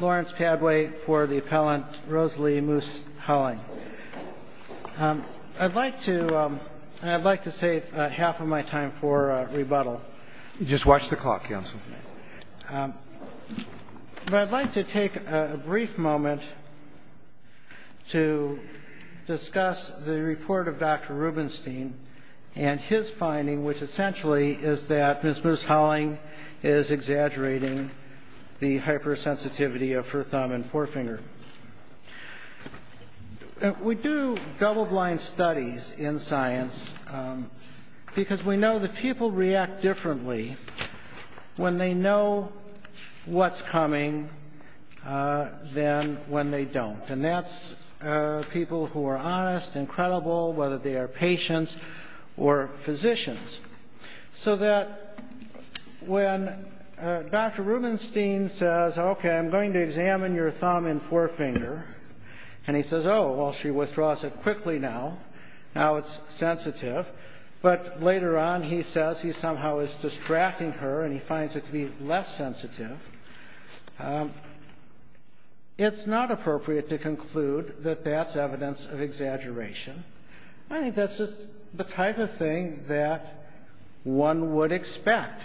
Lawrence Padway for the appellant, Rosalie Moos-Holling. I'd like to save half of my time for rebuttal. Just watch the clock, counsel. But I'd like to take a brief moment to discuss the report of Dr. Rubenstein and his finding, which essentially is that Ms. Moos-Holling is exaggerating the hypersensitivity of her thumb and forefinger. We do double blind studies in science because we know that people react differently when they know what's coming than when they don't. And that's people who are honest, incredible, whether they are patients or physicians. So that when Dr. Rubenstein says, okay, I'm going to examine your thumb and forefinger, and he says, oh, well, she withdraws it quickly now. Now it's sensitive. But later on, he says he somehow is distracting her and he finds it to be less sensitive. It's not appropriate to conclude that that's evidence of exaggeration. I think that's just the type of thing that one would expect.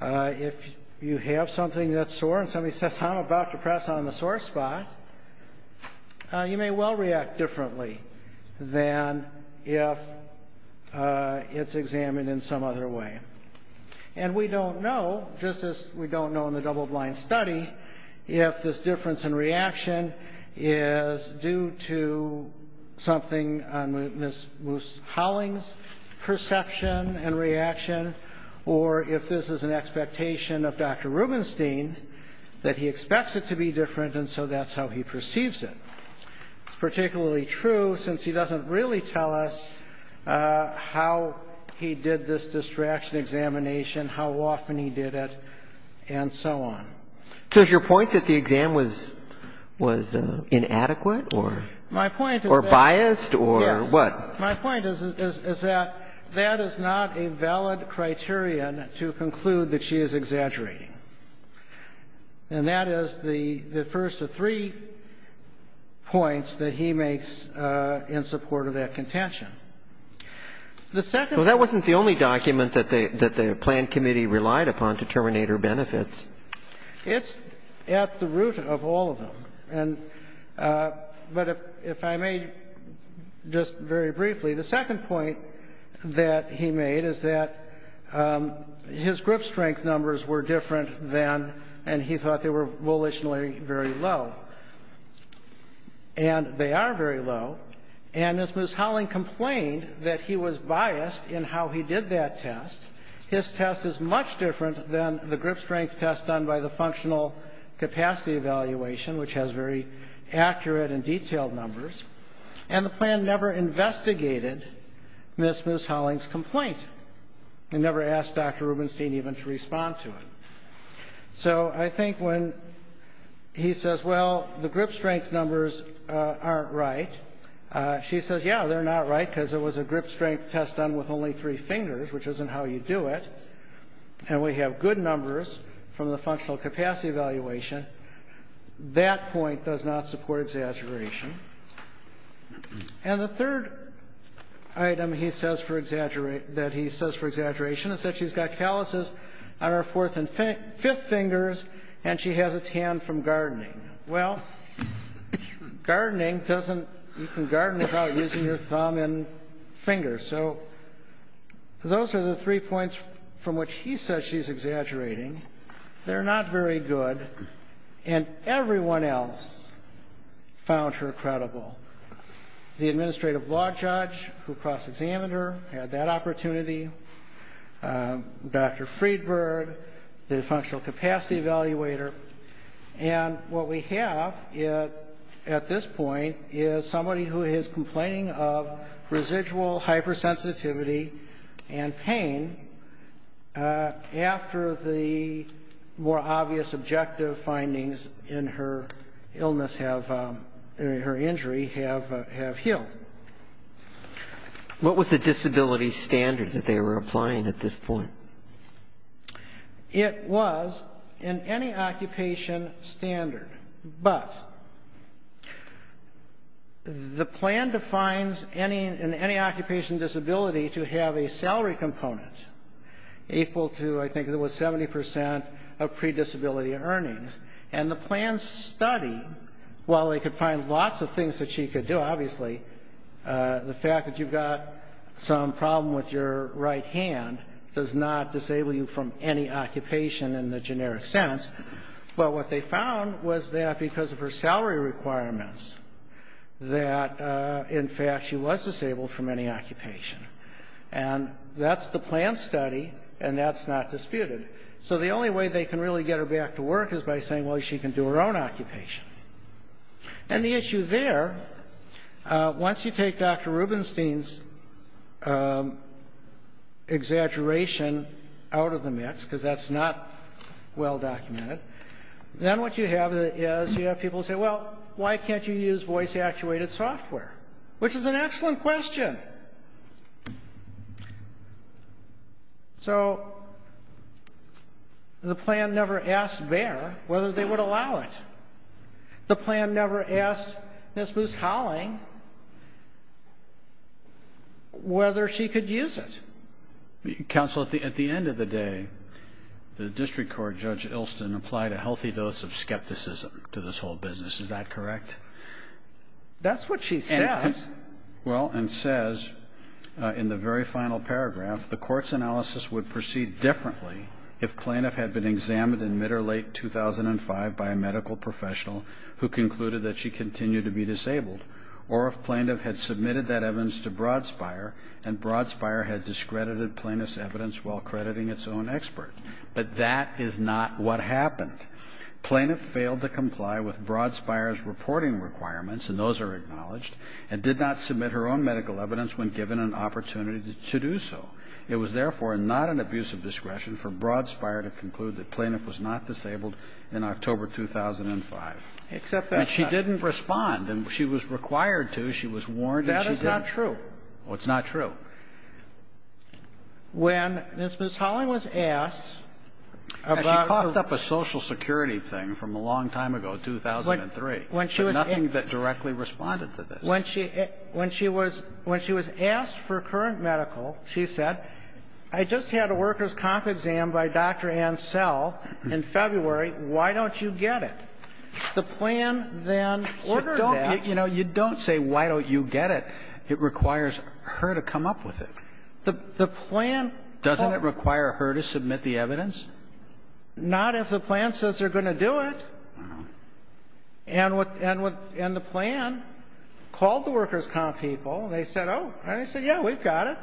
If you have something that's sore and somebody says, I'm about to press on the sore spot, you may well react differently than if it's examined in some other way. And we don't know, just as we don't know in the double blind study, if this difference in reaction is due to something on Ms. Moos-Holling's perception and reaction, or if this is an expectation of Dr. Rubenstein that he expects it to be different and so that's how he perceives it. It's particularly true since he doesn't really tell us how he did this distraction examination, how often he did it, and so on. So is your point that the exam was inadequate or biased or what? My point is that that is not a valid criterion to conclude that she is exaggerating. And that is the first of three points that he makes in support of that contention. Well, that wasn't the only document that the planned committee relied upon to terminate her benefits. It's at the root of all of them. But if I may, just very briefly, the second point that he made is that his grip strength numbers were different than and he thought they were volitionally very low. And they are very low. And Ms. Moos-Holling complained that he was biased in how he did that test. His test is much different than the grip strength test done by the functional capacity evaluation, which has very accurate and detailed numbers. And the plan never investigated Ms. Moos-Holling's complaint. It never asked Dr. Rubenstein even to respond to it. So I think when he says, well, the grip strength numbers aren't right, she says, yeah, they're not right because it was a grip strength test done with only three fingers, which isn't how you do it. And we have good numbers from the functional capacity evaluation. That point does not support exaggeration. And the third item he says for exaggeration is that she's got calluses on her fourth and fifth fingers and she has a tan from gardening. Well, gardening doesn't, you can garden without using your thumb and fingers. So those are the three points from which he says she's exaggerating. They're not very good, and everyone else found her credible. The administrative law judge who cross-examined her had that opportunity. Dr. Friedberg, the functional capacity evaluator. And what we have at this point is somebody who is complaining of residual hypersensitivity and pain after the more obvious objective findings in her illness have, in her injury, have healed. What was the disability standard that they were applying at this point? It was in any occupation standard. But the plan defines in any occupation disability to have a salary component equal to, I think it was 70 percent of predisability earnings. And the plan studied, while they could find lots of things that she could do, obviously, the fact that you've got some problem with your right hand does not disable you from any occupation in the generic sense. But what they found was that because of her salary requirements that, in fact, she was disabled from any occupation. And that's the plan study, and that's not disputed. So the only way they can really get her back to work is by saying, well, she can do her own occupation. And the issue there, once you take Dr. Rubenstein's exaggeration out of the mix, because that's not well documented, then what you have is you have people say, well, why can't you use voice-actuated software? Which is an excellent question. Okay. So the plan never asked Bayer whether they would allow it. The plan never asked Ms. Moose-Holling whether she could use it. Counsel, at the end of the day, the district court, Judge Ilston, applied a healthy dose of skepticism to this whole business. Is that correct? That's what she says. Well, and says in the very final paragraph, the court's analysis would proceed differently if plaintiff had been examined in mid or late 2005 by a medical professional who concluded that she continued to be disabled, or if plaintiff had submitted that evidence to Broadsbuyer and Broadsbuyer had discredited plaintiff's evidence while crediting its own expert. But that is not what happened. Plaintiff failed to comply with Broadsbuyer's reporting requirements, and those are acknowledged, and did not submit her own medical evidence when given an opportunity to do so. It was, therefore, not an abuse of discretion for Broadsbuyer to conclude that plaintiff was not disabled in October 2005. Except that she didn't respond, and she was required to. She was warned that she didn't. That is not true. Well, it's not true. When Ms. Moose-Holling was asked about the social security thing from a long time ago, 2003. Nothing that directly responded to this. When she was asked for current medical, she said, I just had a worker's comp exam by Dr. Ann Sell in February. Why don't you get it? The plan then ordered that. You don't say, why don't you get it? It requires her to come up with it. The plan. Doesn't it require her to submit the evidence? Not if the plan says they're going to do it. And the plan called the worker's comp people. They said, oh. And they said, yeah, we've got it.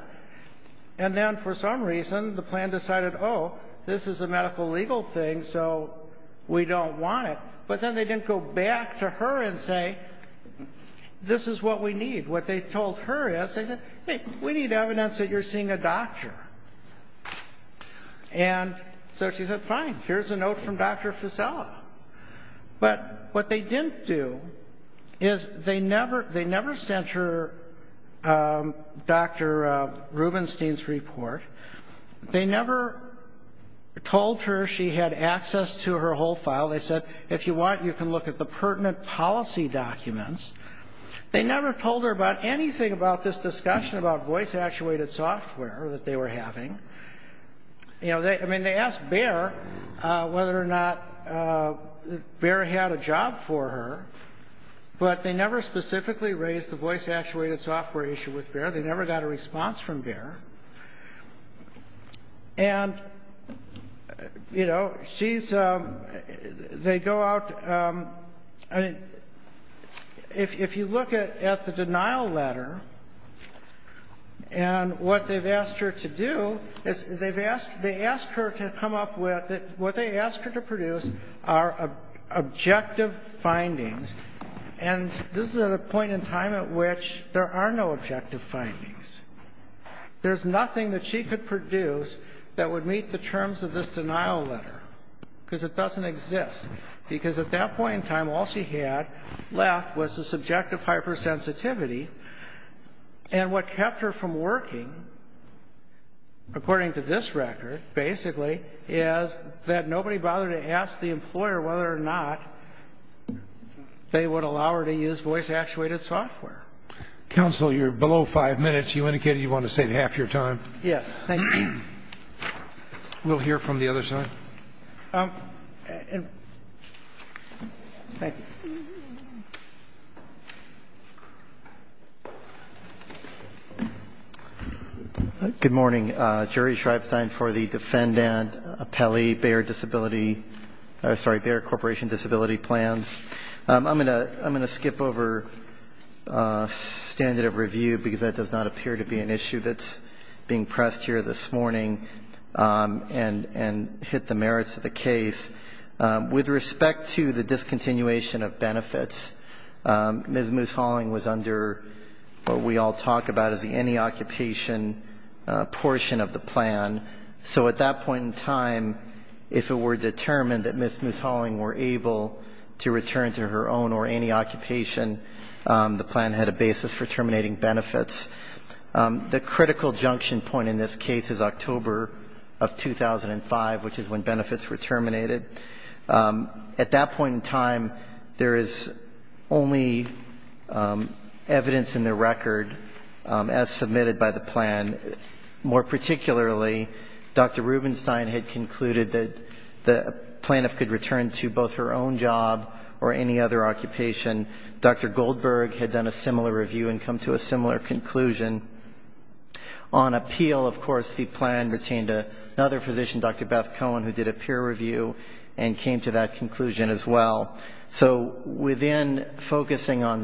And then, for some reason, the plan decided, oh, this is a medical legal thing, so we don't want it. But then they didn't go back to her and say, this is what we need. What they told her is, they said, hey, we need evidence that you're seeing a doctor. And so she said, fine. Here's a note from Dr. Fasella. But what they didn't do is they never sent her Dr. Rubenstein's report. They never told her she had access to her whole file. They said, if you want, you can look at the pertinent policy documents. They never told her about anything about this discussion about voice-actuated software that they were having. I mean, they asked Bayer whether or not Bayer had a job for her. But they never specifically raised the voice-actuated software issue with Bayer. They never got a response from Bayer. And, you know, she's they go out. I mean, if you look at the denial letter, and what they've asked her to do is they've asked they asked her to come up with what they asked her to produce are objective findings. And this is at a point in time at which there are no objective findings. There's nothing that she could produce that would meet the terms of this denial letter. Because it doesn't exist. Because at that point in time, all she had left was the subjective hypersensitivity. And what kept her from working, according to this record, basically, is that nobody bothered to ask the employer whether or not they would allow her to use voice-actuated software. Counsel, you're below five minutes. You indicated you wanted to save half your time. Yes. Thank you. We'll hear from the other side. Thank you. Good morning. Jerry Schreibstein for the Defendant Appellee, Bayer Disability. Sorry, Bayer Corporation Disability Plans. I'm going to skip over standard of review, because that does not appear to be an issue that's being pressed here this morning and hit the merits of the case. With respect to the discontinuation of benefits, Ms. Halling was under what we all talk about as the any occupation portion of the plan. So at that point in time, if it were determined that Ms. Halling were able to return to her own or any occupation, the plan had a basis for terminating benefits. The critical junction point in this case is October of 2005, which is when benefits were terminated. At that point in time, there is only evidence in the record, as submitted by the plan, more particularly Dr. Rubenstein had concluded that the plaintiff could return to both her own job or any other occupation. Dr. Goldberg had done a similar review and come to a similar conclusion. On appeal, of course, the plan retained another physician, Dr. Beth Cohen, who did a peer review and came to that conclusion as well. So within focusing on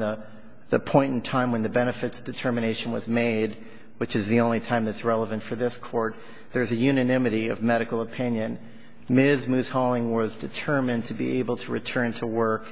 the point in time when the benefits determination was made, which is the only time that's relevant for this Court, there's a unanimity of medical opinion. Ms. Halling was determined to be able to return to work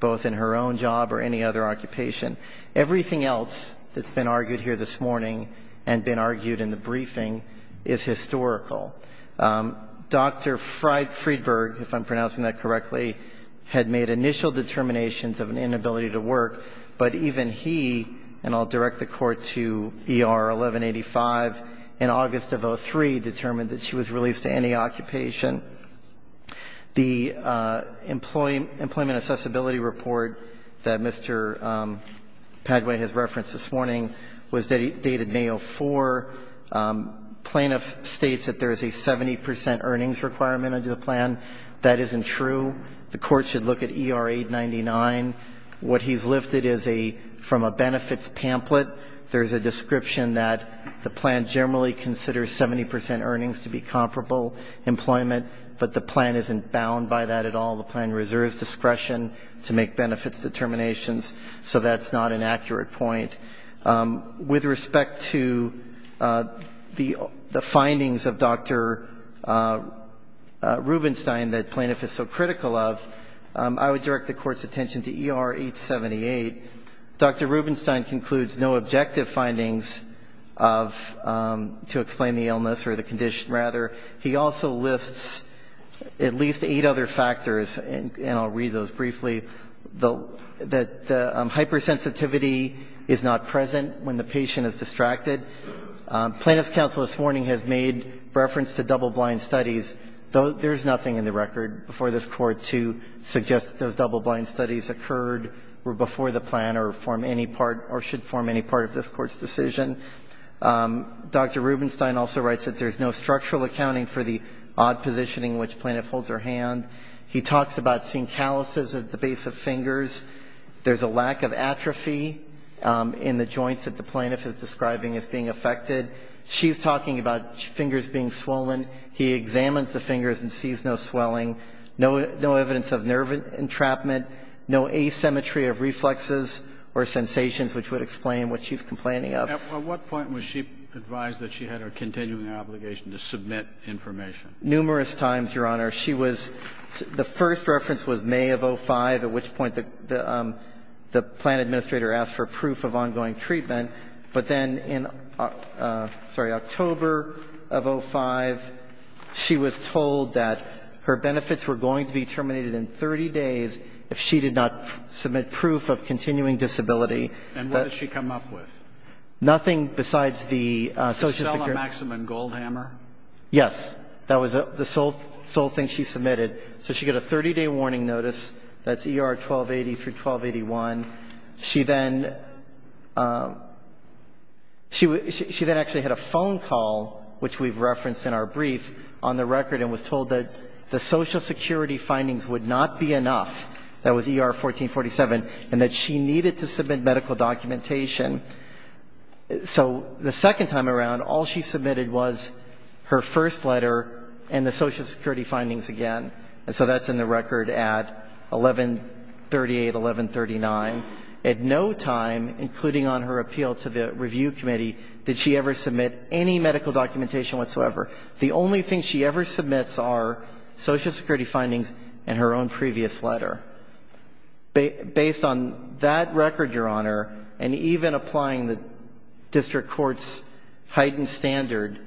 both in her own job or any other occupation. Everything else that's been argued here this morning and been argued in the briefing is historical. Dr. Friedberg, if I'm pronouncing that correctly, had made initial determinations of an inability to work, but even he, and I'll direct the Court to ER 1185, in August of 2003 determined that she was released to any occupation. The Employment Accessibility Report that Mr. Padway has referenced this morning was dated May of 2004. Plaintiff states that there is a 70 percent earnings requirement under the plan. That isn't true. The Court should look at ER 899. What he's lifted is a, from a benefits pamphlet, there's a description that the plan generally considers 70 percent earnings to be comparable employment, but the plan isn't bound by that at all. The plan reserves discretion to make benefits determinations, so that's not an accurate point. With respect to the findings of Dr. Rubenstein that plaintiff is so critical of, I would direct the Court's attention to ER 878. Dr. Rubenstein concludes no objective findings to explain the illness or the condition, rather. He also lists at least eight other factors, and I'll read those briefly, that hypersensitivity is not present when the patient is distracted. Plaintiff's counsel this morning has made reference to double-blind studies, though there's nothing in the record before this Court to suggest that those double-blind studies occurred or before the plan or form any part, or should form any part of this Court's decision. Dr. Rubenstein also writes that there's no structural accounting for the odd positioning in which plaintiff holds her hand. He talks about seeing calluses at the base of fingers. There's a lack of atrophy in the joints that the plaintiff is describing as being affected. She's talking about fingers being swollen. He examines the fingers and sees no swelling, no evidence of nerve entrapment, no asymmetry of reflexes or sensations, which would explain what she's complaining of. At what point was she advised that she had a continuing obligation to submit information? Numerous times, Your Honor. She was the first reference was May of 05, at which point the plan administrator asked for proof of ongoing treatment. But then in, sorry, October of 05, she was told that her benefits were going to be terminated in 30 days if she did not submit proof of continuing disability. And what did she come up with? Nothing besides the Social Security. Michelle Maxim and Goldhammer? Yes. That was the sole thing she submitted. So she got a 30-day warning notice. That's ER 1280 through 1281. She then actually had a phone call, which we've referenced in our brief, on the record and was told that the Social Security findings would not be enough, that was ER 1447, and that she needed to submit medical documentation. So the second time around, all she submitted was her first letter and the Social Security findings again. And so that's in the record at 1138, 1139. At no time, including on her appeal to the review committee, did she ever submit any medical documentation whatsoever. The only thing she ever submits are Social Security findings and her own previous letter. Based on that record, Your Honor, and even applying the district court's heightened standard,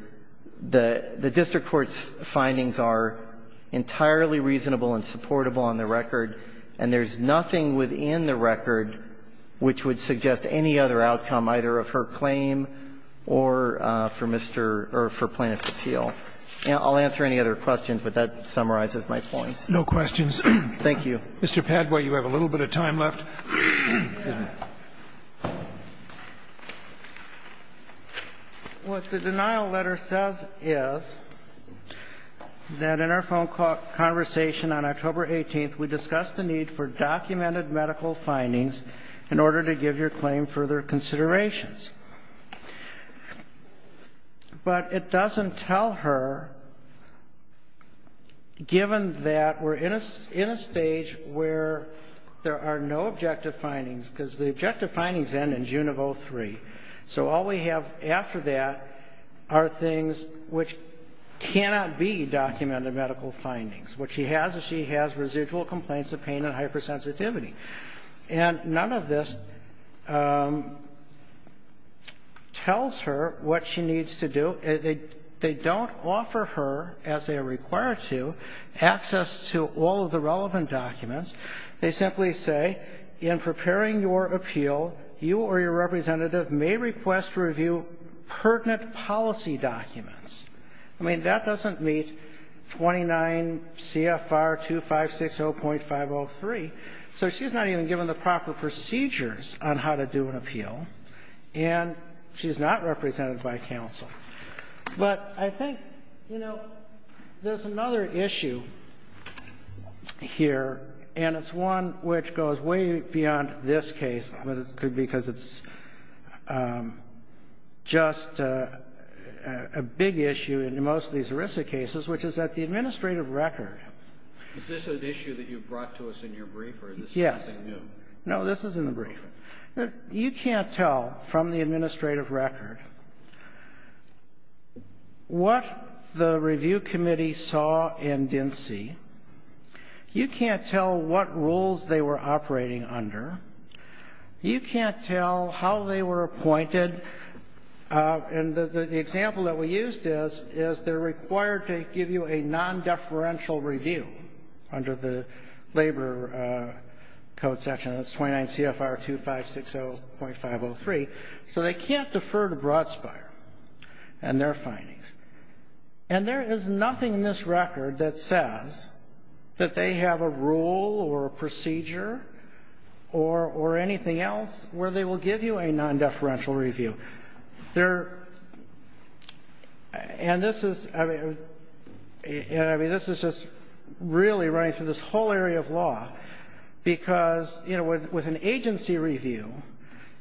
the district court's findings are entirely reasonable and supportable on the record, and there's nothing within the record which would suggest any other outcome, either of her claim or for Mr. or for plaintiff's appeal. I'll answer any other questions, but that summarizes my points. No questions. Thank you. Mr. Padway, you have a little bit of time left. What the denial letter says is that in our phone conversation on October 18th, we discussed the need for documented medical findings in order to give your claim further considerations. But it doesn't tell her, given that we're in a stage where there are no objective findings, because the objective findings end in June of 2003, so all we have after that are things which cannot be documented medical findings. What she has is she has residual complaints of pain and hypersensitivity. And none of this tells her what she needs to do. They don't offer her, as they are required to, access to all of the relevant documents. They simply say, in preparing your appeal, you or your representative may request review pertinent policy documents. I mean, that doesn't meet 29 CFR 2560.503. So she's not even given the proper procedures on how to do an appeal. And she's not represented by counsel. But I think, you know, there's another issue here, and it's one which goes way beyond this case, because it's just a big issue in most of these ERISA cases, which is that the administrative record. Is this an issue that you brought to us in your brief, or is this something new? Yes. No, this is in the brief. You can't tell from the administrative record what the review committee saw and didn't see. You can't tell what rules they were operating under. You can't tell how they were appointed. And the example that we used is, is they're required to give you a non-deferential review under the Labor Code section. That's 29 CFR 2560.503. So they can't defer to Brodsky and their findings. And there is nothing in this record that says that they have a rule or a procedure or anything else where they will give you a non-deferential review. And this is, I mean, this is just really running through this whole area of law. Because, you know, with an agency review,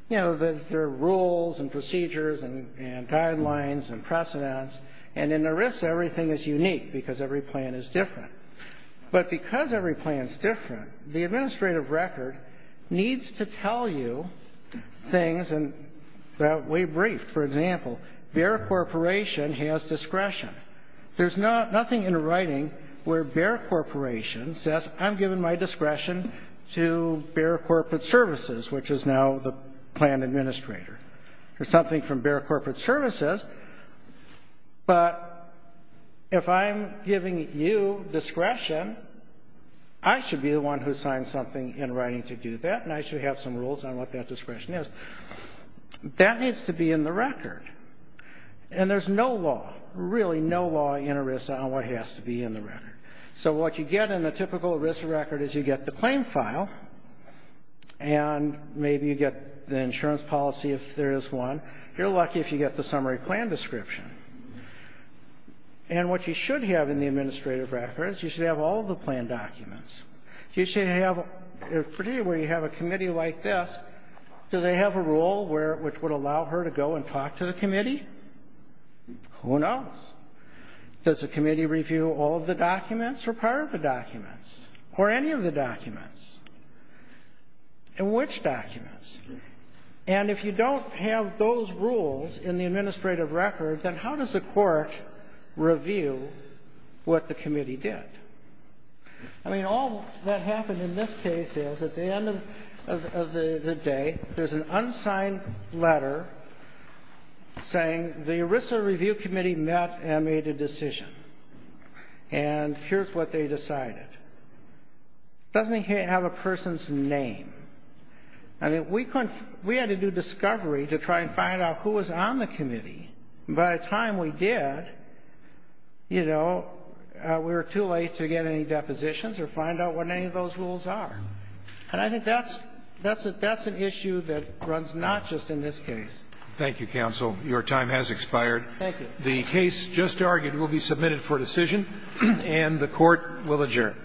you know, there are rules and procedures and guidelines and precedents. And in ERISA, everything is unique because every plan is different. But because every plan is different, the administrative record needs to tell you things that we briefed. For example, Bexar Corporation has discretion. There's nothing in the writing where Bexar Corporation says, I'm giving my discretion to Bexar Corporate Services, which is now the plan administrator. There's something from Bexar Corporate Services. But if I'm giving you discretion, I should be the one who signs something in writing to do that, and I should have some rules on what that discretion is. That needs to be in the record. And there's no law, really no law in ERISA on what has to be in the record. So what you get in a typical ERISA record is you get the claim file, and maybe you get the insurance policy if there is one. You're lucky if you get the summary plan description. And what you should have in the administrative record is you should have all the plan documents. You should have, particularly where you have a committee like this, do they have a rule which would allow her to go and talk to the committee? Who knows? Does the committee review all of the documents or part of the documents or any of the documents? And which documents? And if you don't have those rules in the administrative record, then how does the court review what the committee did? I mean, all that happened in this case is at the end of the day, there's an unsigned letter saying the ERISA review committee met and made a decision, and here's what they decided. It doesn't have a person's name. I mean, we had to do discovery to try and find out who was on the committee. By the time we did, you know, we were too late to get any depositions or find out what any of those rules are. And I think that's an issue that runs not just in this case. Thank you, counsel. Your time has expired. Thank you. The case just argued will be submitted for decision, and the Court will adjourn.